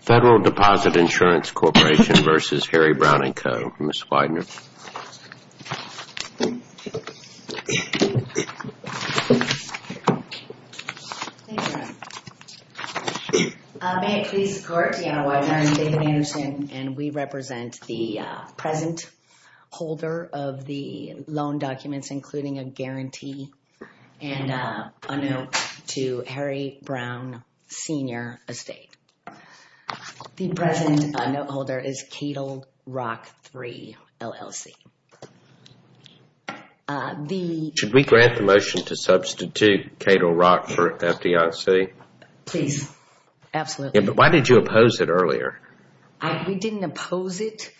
Federal Deposit Insurance Corporation v. Harry Brown & Co., Ms. Weidner. May it please the Court, Deanna Weidner and David Anderson, and we represent the present holder of the loan documents including a guarantee and a note to Harry Brown Sr. Estate. The present note holder is Cato Rock III, LLC. Should we grant the motion to substitute Cato Rock for FDIC? Please. Absolutely. Why did you oppose it earlier? We didn't oppose it.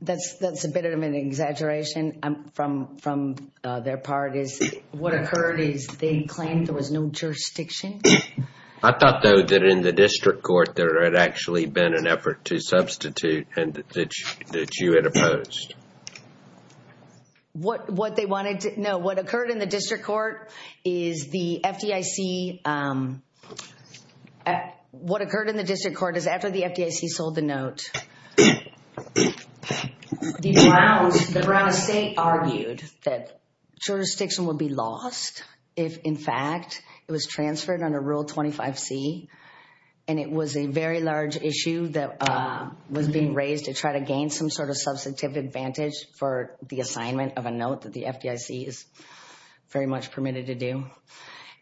That's a bit of an exaggeration from their part. What occurred is they claimed there was no jurisdiction. I thought, though, that in the district court there had actually been an effort to substitute and that you had opposed. What occurred in the district court is after the FDIC sold the note, the Brown Estate argued that jurisdiction would be lost if, in fact, it was transferred under Rule 25C, and it was a very large issue that was being raised to try to gain some sort of substantive advantage for the assignment of a note that the FDIC is very much permitted to do.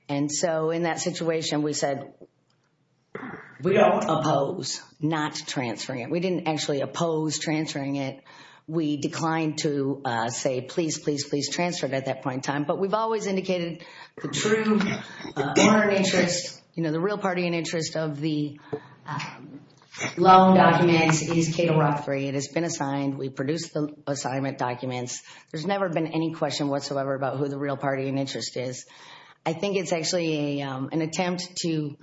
And so in that situation, we said, we don't oppose not transferring it. We didn't actually oppose transferring it. We declined to say, please, please, please transfer it at that point in time. But we've always indicated the true interest, you know, the real party in interest of the loan documents is Cato Rock III. It has been assigned. We produced the assignment documents. There's never been any question whatsoever about who the real party in interest is. I think it's actually an attempt to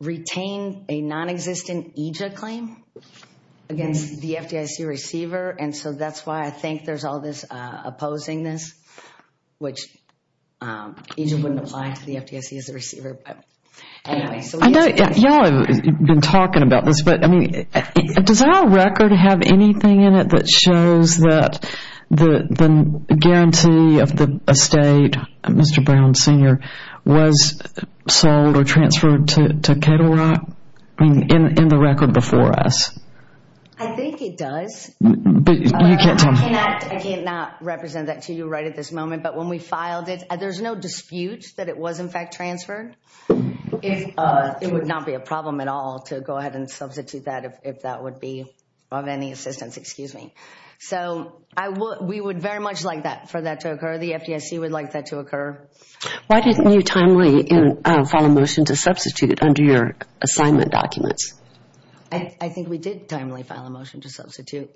retain a nonexistent EJIA claim against the FDIC receiver. And so that's why I think there's all this opposing this, which EJIA wouldn't apply to the FDIC as a receiver. I know y'all have been talking about this, but I mean, does our record have anything in it that shows that the guarantee of the estate, Mr. Brown Sr., was sold or transferred to Cato Rock in the record before us? I think it does. But you can't tell me. I can't not represent that to you right at this moment. But when we filed it, there's no dispute that it was, in fact, transferred. It would not be a problem at all to go ahead and substitute that if that would be of any assistance. So we would very much like for that to occur. The FDIC would like that to occur. Why didn't you timely file a motion to substitute it under your assignment documents? I think we did timely file a motion to substitute.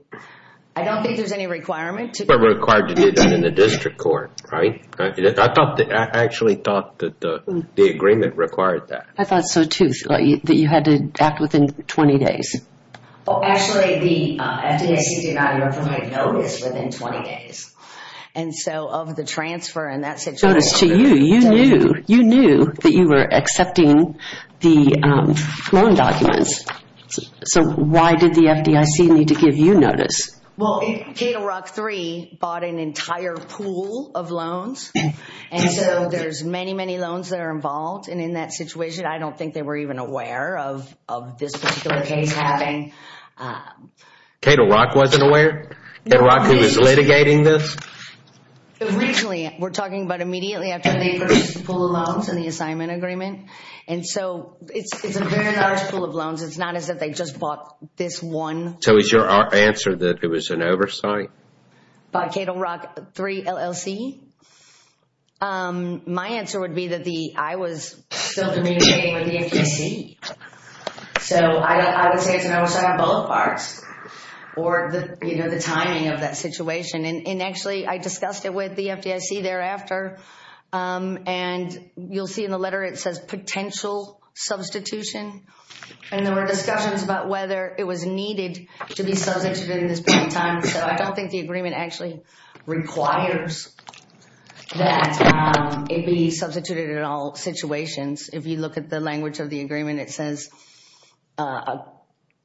I don't think there's any requirement to do that. But we're required to do that in the district court, right? I actually thought that the agreement required that. I thought so, too, that you had to act within 20 days. Actually, the FDIC did not even make notice within 20 days. And so of the transfer and that situation. You knew that you were accepting the loan documents. So why did the FDIC need to give you notice? Well, Cato Rock III bought an entire pool of loans. And so there's many, many loans that are involved. And in that situation, I don't think they were even aware of this particular case happening. Cato Rock wasn't aware? Cato Rock, who was litigating this? Originally, we're talking about immediately after they purchased the pool of loans in the assignment agreement. And so it's a very large pool of loans. It's not as if they just bought this one. So is your answer that it was an oversight? By Cato Rock III LLC? My answer would be that I was still litigating with the FDIC. So I would say it's an oversight on both parts. Or the timing of that situation. And actually, I discussed it with the FDIC thereafter. And you'll see in the letter it says potential substitution. And there were discussions about whether it was needed to be substituted at this point in time. So I don't think the agreement actually requires that it be substituted in all situations. If you look at the language of the agreement, it says,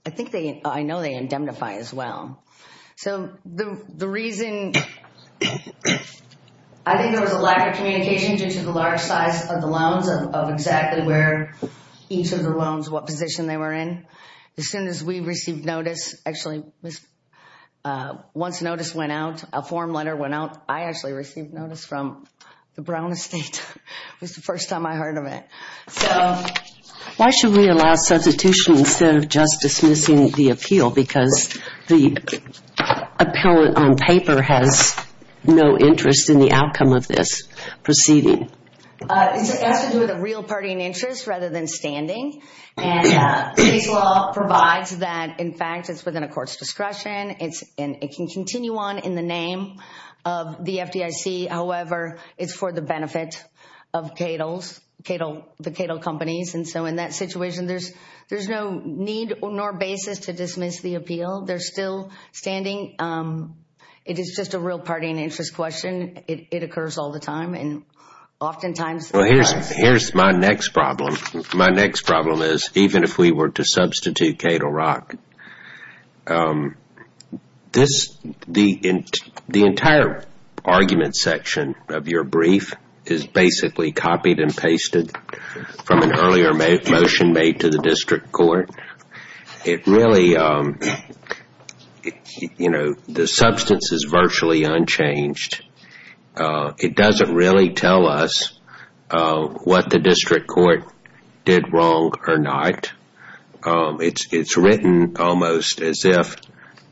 I think they, I know they indemnify as well. So the reason, I think there was a lack of communication due to the large size of the loans, of exactly where each of the loans, what position they were in. As soon as we received notice, actually, once notice went out, a form letter went out, I actually received notice from the Brown Estate. It was the first time I heard of it. So why should we allow substitution instead of just dismissing the appeal? Because the appellate on paper has no interest in the outcome of this proceeding. It's an issue with a real party in interest rather than standing. And the case law provides that, in fact, it's within a court's discretion. It can continue on in the name of the FDIC. However, it's for the benefit of Cato's, the Cato companies. And so in that situation, there's no need nor basis to dismiss the appeal. They're still standing. It is just a real party in interest question. It occurs all the time and oftentimes. Here's my next problem. My next problem is, even if we were to substitute Cato Rock, the entire argument section of your brief is basically copied and pasted from an earlier motion made to the district court. It really, you know, the substance is virtually unchanged. It doesn't really tell us what the district court did wrong or not. It's written almost as if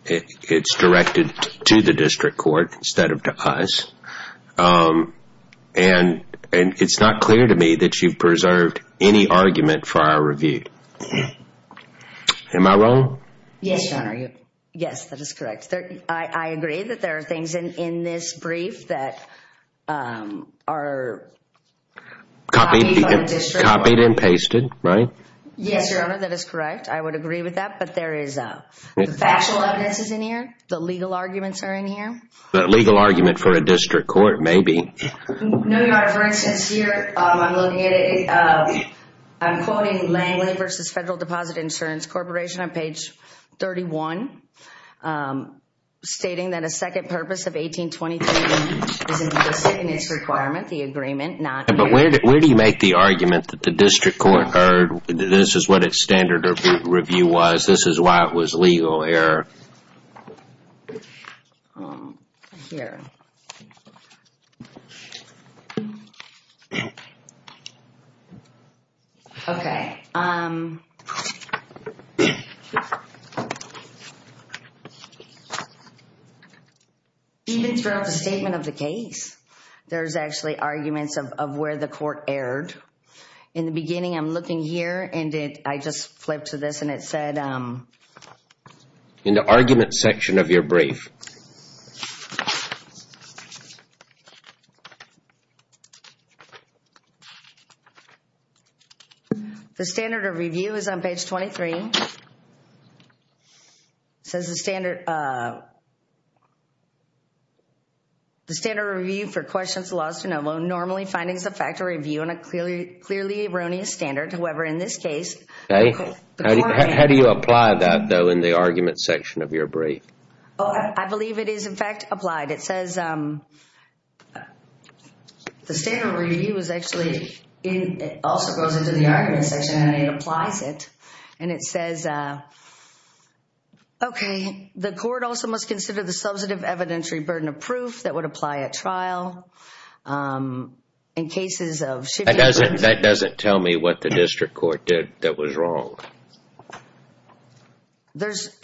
it's directed to the district court instead of to us. And it's not clear to me that you've preserved any argument for our review. Am I wrong? Yes, Your Honor. Yes, that is correct. I agree that there are things in this brief that are copied by the district court. Copied and pasted, right? Yes, Your Honor. That is correct. I would agree with that. But there is factual evidences in here. The legal arguments are in here. The legal argument for a district court, maybe. No, Your Honor. For instance, here I'm looking at it. I'm quoting Langley v. Federal Deposit Insurance Corporation on page 31, the agreement, not here. But where do you make the argument that the district court heard this is what its standard review was, this is why it was legal error? Here. Okay. Even throughout the statement of the case, there's actually arguments of where the court erred. In the beginning, I'm looking here and I just flipped to this and it said In the argument section of your brief. The standard of review is on page 23. Okay. It says the standard The standard review for questions of laws to NOVO normally findings affect a review on a clearly erroneous standard. However, in this case, the court How do you apply that, though, in the argument section of your brief? I believe it is, in fact, applied. It says The standard review is actually It also goes into the argument section and it applies it. And it says Okay. The court also must consider the substantive evidentiary burden of proof that would apply at trial. In cases of That doesn't tell me what the district court did that was wrong. There's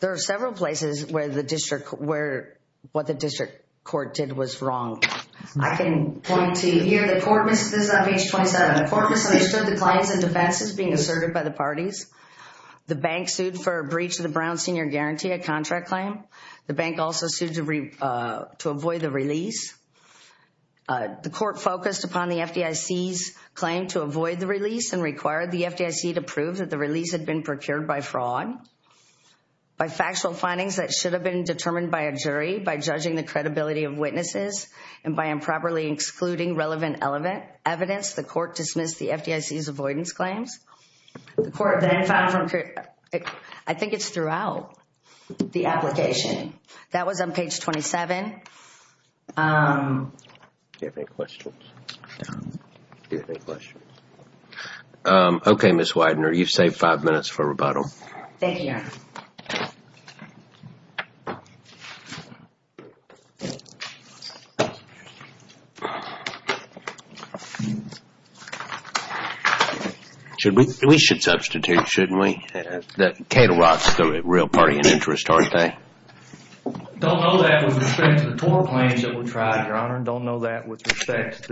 There are several places where the district where what the district court did was wrong. I can point to here. The court missed this on page 27. The court misunderstood the claims and defenses being asserted by the parties. The bank sued for breach of the Brown Senior Guarantee, a contract claim. The bank also sued to avoid the release. The court focused upon the FDIC's claim to avoid the release and required the FDIC to prove that the release had been procured by fraud. By factual findings that should have been determined by a jury by judging the credibility of witnesses and by improperly excluding relevant evidence the court dismissed the FDIC's avoidance claims. The court then found from I think it's throughout the application. That was on page 27. Do you have any questions? No. Do you have any questions? Thank you, Your Honor. Should we? We should substitute, shouldn't we? Cato Rock is a real party in interest, aren't they? Don't know that with respect to the TOR claims that were tried, Your Honor. Don't know that with respect to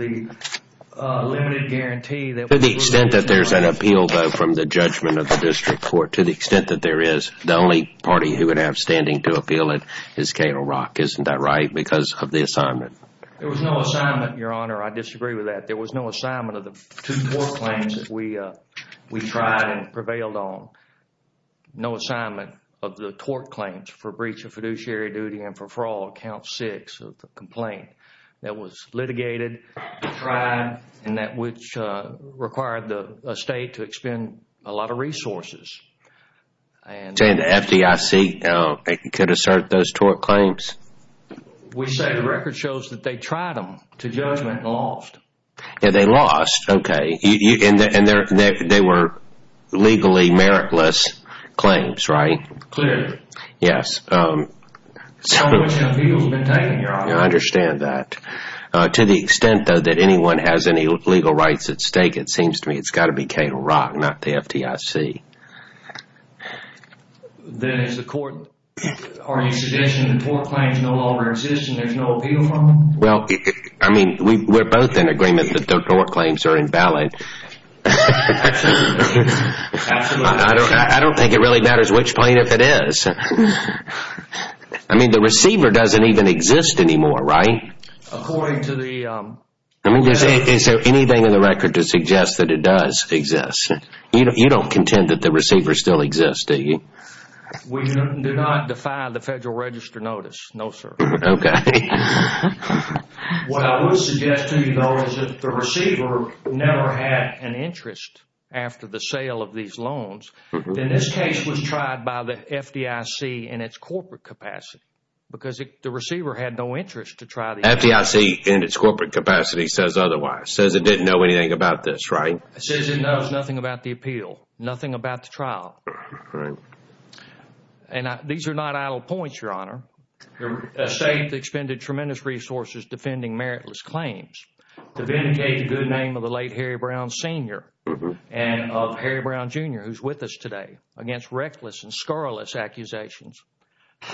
the limited guarantee that To the extent that there's an appeal, though, from the judgment of the district court. To the extent that there is. The only party who would have standing to appeal it It's the only party who would have standing to appeal it. Isn't that right because of the assignment? There was no assignment, Your Honor. I disagree with that. There was no assignment of the two TOR claims that we tried and prevailed on. No assignment of the TOR claims for breach of fiduciary duty and for fraud, count six of the complaint that was litigated, tried, and that which required a state to expend a lot of resources. You're saying the FDIC could assert those TOR claims? We say the record shows that they tried them to judgment and lost. Yeah, they lost. Okay. And they were legally meritless claims, right? Clearly. Yes. So much appeal has been taken, Your Honor. I understand that. To the extent, though, that anyone has any legal rights at stake it seems to me it's got to be Cato Rock, not the FDIC. Then is the court... Are you suggesting the TOR claims no longer exist and there's no appeal from them? Well, I mean, we're both in agreement that the TOR claims are invalid. Absolutely. I don't think it really matters which plaintiff it is. I mean, the receiver doesn't even exist anymore, right? According to the... I mean, is there anything in the record to suggest that it does exist? You don't contend that the receiver still exists, do you? We do not defy the Federal Register notice, no, sir. Okay. What I would suggest to you, though, is if the receiver never had an interest after the sale of these loans, then this case was tried by the FDIC in its corporate capacity because the receiver had no interest to try the... FDIC in its corporate capacity says otherwise, says it didn't know anything about this, right? Says it knows nothing about the appeal, nothing about the trial. Right. And these are not idle points, Your Honor. The state expended tremendous resources defending meritless claims to vindicate the good name of the late Harry Brown Sr. and of Harry Brown Jr., who's with us today, against reckless and scurrilous accusations.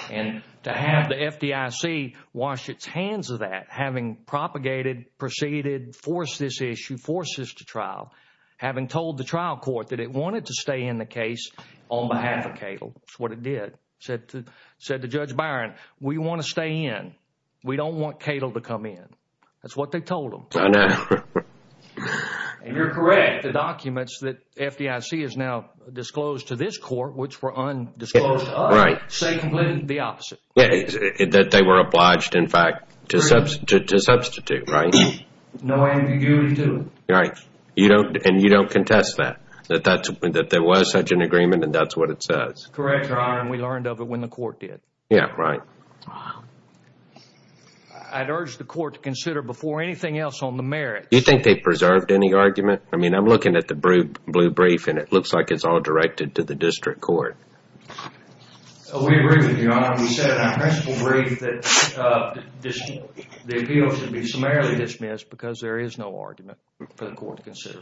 And to have the FDIC wash its hands of that, having propagated, preceded, forced this issue, forced this to trial, having told the trial court that it wanted to stay in the case on behalf of Cato. That's what it did. Said to Judge Byron, we want to stay in. We don't want Cato to come in. That's what they told him. I know. And you're correct. The documents that FDIC has now disclosed to this court, which were undisclosed to us, say completely the opposite. That they were obliged, in fact, to substitute, right? No ambiguity to it. Right. And you don't contest that? That there was such an agreement and that's what it says? Correct, Your Honor, and we learned of it when the court did. Yeah, right. I'd urge the court to consider before anything else on the merits. Do you think they preserved any argument? I mean, I'm looking at the blue brief, and it looks like it's all directed to the district court. We agree with you, Your Honor. We said in our principle brief that the appeal should be summarily dismissed because there is no argument for the court to consider.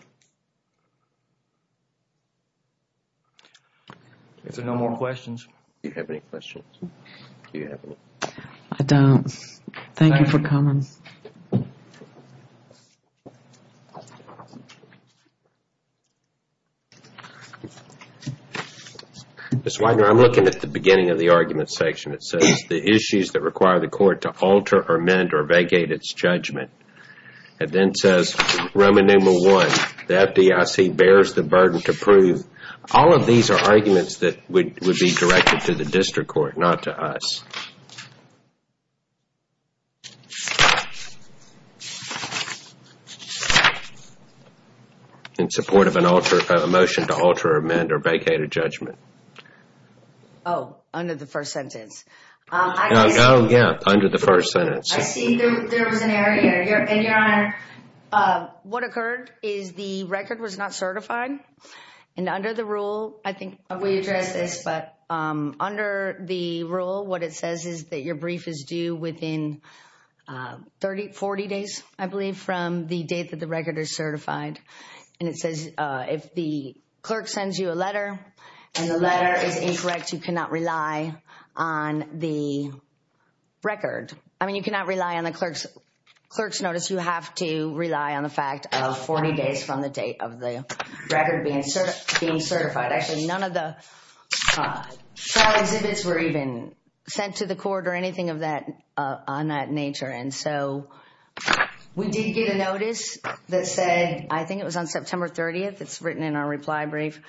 If there are no more questions, do you have any questions? Do you have any? I don't. Thank you for coming. Ms. Wagner, I'm looking at the beginning of the argument section. It says the issues that require the court to alter, amend, or vacate its judgment. It then says Roman numeral one, the FDIC bears the burden to prove. All of these are arguments that would be directed to the district court, not to us. In support of a motion to alter, amend, or vacate a judgment. Oh, under the first sentence. What occurred is the record was not certified, and under the rule, I think we addressed this, but under the rule, what it says is that your brief is due within 40 days, I believe, from the date that the record is certified. And it says if the clerk sends you a letter and the letter is incorrect, you cannot rely on the record. I mean, you cannot rely on the clerk's notice. You have to rely on the fact of 40 days from the date of the record being certified. Actually, none of the exhibits were even sent to the court or anything of that nature. And so we did get a notice that said, I think it was on September 30th. It's written in our reply brief.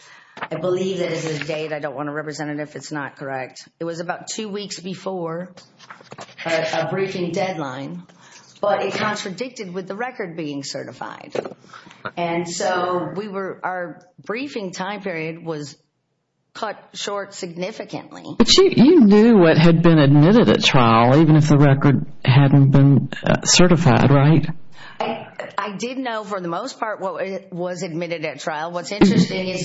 I believe it is a date. I don't want to represent it if it's not correct. It was about two weeks before a briefing deadline, but it contradicted with the record being certified. And so our briefing time period was cut short significantly. But you knew what had been admitted at trial, even if the record hadn't been certified, right? I did know for the most part what was admitted at trial. What's interesting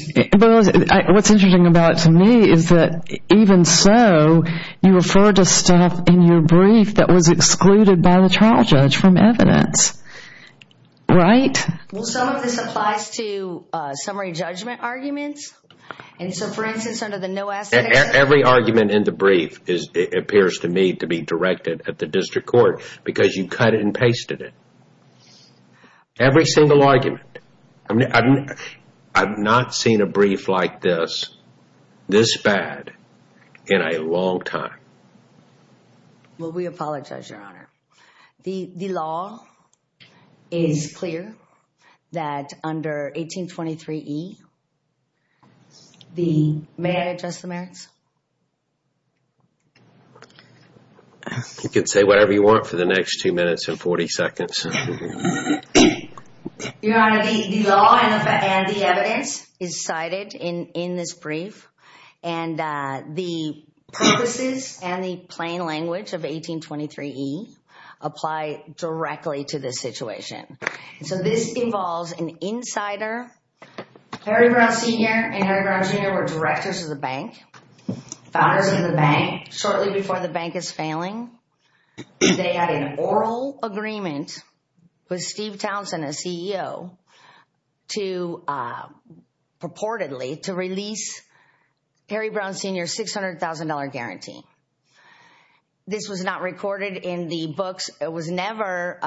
about it to me is that even so, you referred to stuff in your brief that was excluded by the trial judge from evidence, right? Well, some of this applies to summary judgment arguments. Every argument in the brief appears to me to be directed at the district court because you cut and pasted it. Every single argument. I've not seen a brief like this, this bad, in a long time. The law is clear that under 1823E, may I address the merits? You can say whatever you want for the next two minutes and 40 seconds. Your Honor, the law and the evidence is cited in this brief. And the purposes and the plain language of 1823E apply directly to this situation. So this involves an insider, Harry Brown Sr. and Harry Brown Jr. were directors of the bank, founders of the bank. Shortly before the bank is failing, they had an oral agreement with Steve Townsend, a CEO, purportedly to release Harry Brown Sr.'s $600,000 guarantee. This was not recorded in the books. It was never...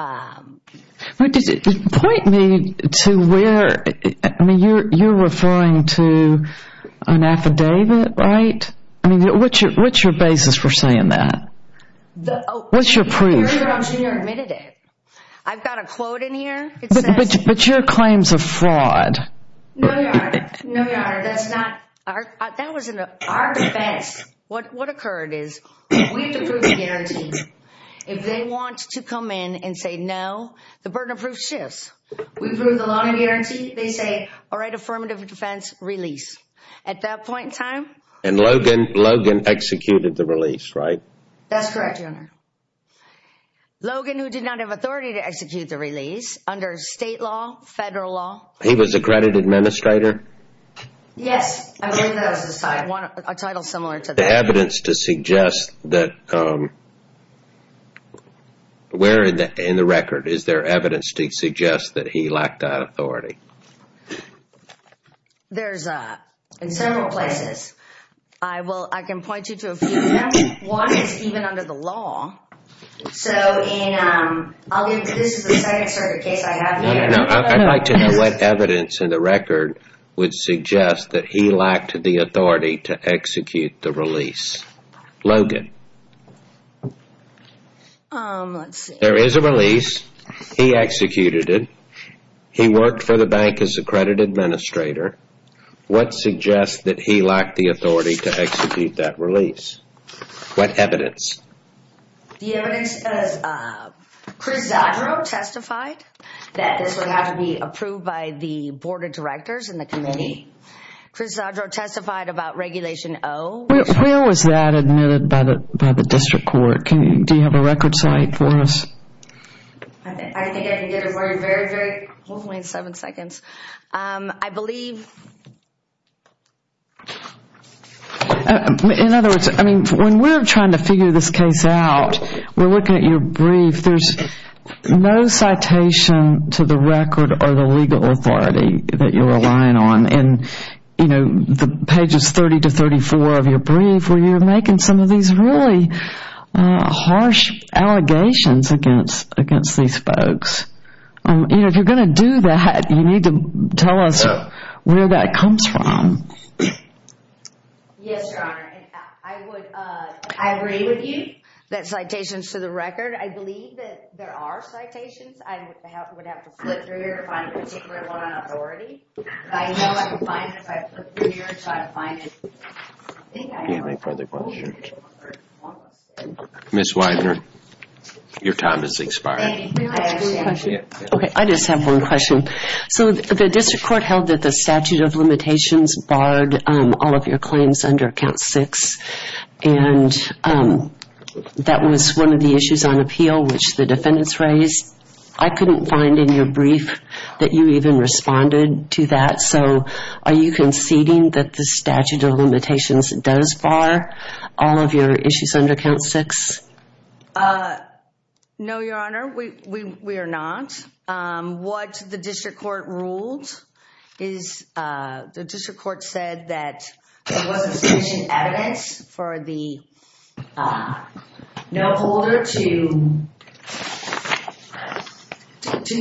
Point me to where, you're referring to an affidavit, right? What's your basis for saying that? What's your proof? Harry Brown Sr. admitted it. I've got a quote in here. But your claim's a fraud. No, Your Honor, that's not... That was in our defense. What occurred is, we have to prove the guarantee. If they want to come in and say no, the burden of proof shifts. We prove the loan and guarantee, they say, all right, affirmative defense, release. At that point in time... And Logan executed the release, right? That's correct, Your Honor. Logan, who did not have authority to execute the release, under state law, federal law... He was accredited administrator? Yes, I believe that was the title. A title similar to that. Is there evidence to suggest that... Where in the record is there evidence to suggest that he lacked authority? There's... In several places. I can point you to a few of them. One is even under the law. So in... I'll give you... This is the second sort of case I have here. I'd like to know what evidence in the record would suggest that he lacked the authority to execute the release. Logan. Let's see. There is a release. He executed it. He worked for the bank as accredited administrator. What suggests that he lacked the authority to execute that release? What evidence? The evidence is... Chris Zadro testified that this would have to be approved by the board of directors and the committee. Chris Zadro testified about Regulation O. When was that admitted by the district court? Do you have a record slide for us? I think I can get it for you. Very, very... Hold on, wait seven seconds. I believe... In other words, I mean, when we're trying to figure this case out, we're looking at your brief. There's no citation to the record or the legal authority that you're relying on. And, you know, the pages 30 to 34 of your brief where you're making some of these really harsh allegations against these folks. You know, if you're going to do that, you need to tell us where that comes from. Yes, Your Honor. I would... I agree with you that citations to the record. I believe that there are citations. I would have to flip through here to find a particular one on authority. I know I can find it if I flip through here and try to find it. Do you have any further questions? Ms. Widener, your time has expired. Okay, I just have one question. So the district court held that the statute of limitations barred all of your claims under Count 6, and that was one of the issues on appeal which the defendants raised. I couldn't find in your brief that you even responded to that. So are you conceding that the statute of limitations does bar all of your issues under Count 6? No, Your Honor, we are not. What the district court ruled is the district court said that there wasn't sufficient evidence for the no-holder to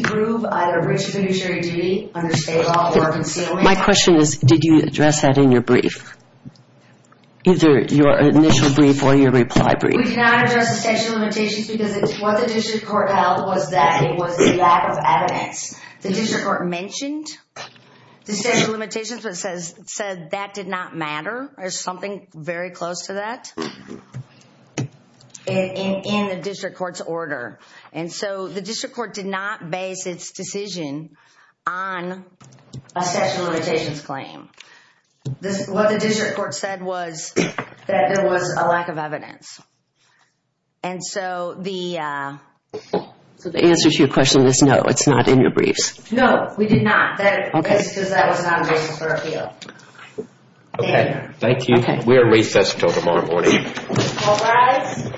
prove either breach of fiduciary duty under state law or concealment. My question is did you address that in your brief, either your initial brief or your reply brief? We did not address the statute of limitations because what the district court held was that it was a lack of evidence. The district court mentioned the statute of limitations but said that did not matter. There's something very close to that in the district court's order. And so the district court did not base its decision on a statute of limitations claim. What the district court said was that there was a lack of evidence. And so the answer to your question is no, it's not in your briefs. No, we did not, because that was not a basis for appeal. Okay, thank you. We are recessed until tomorrow morning. All rise. Thank you.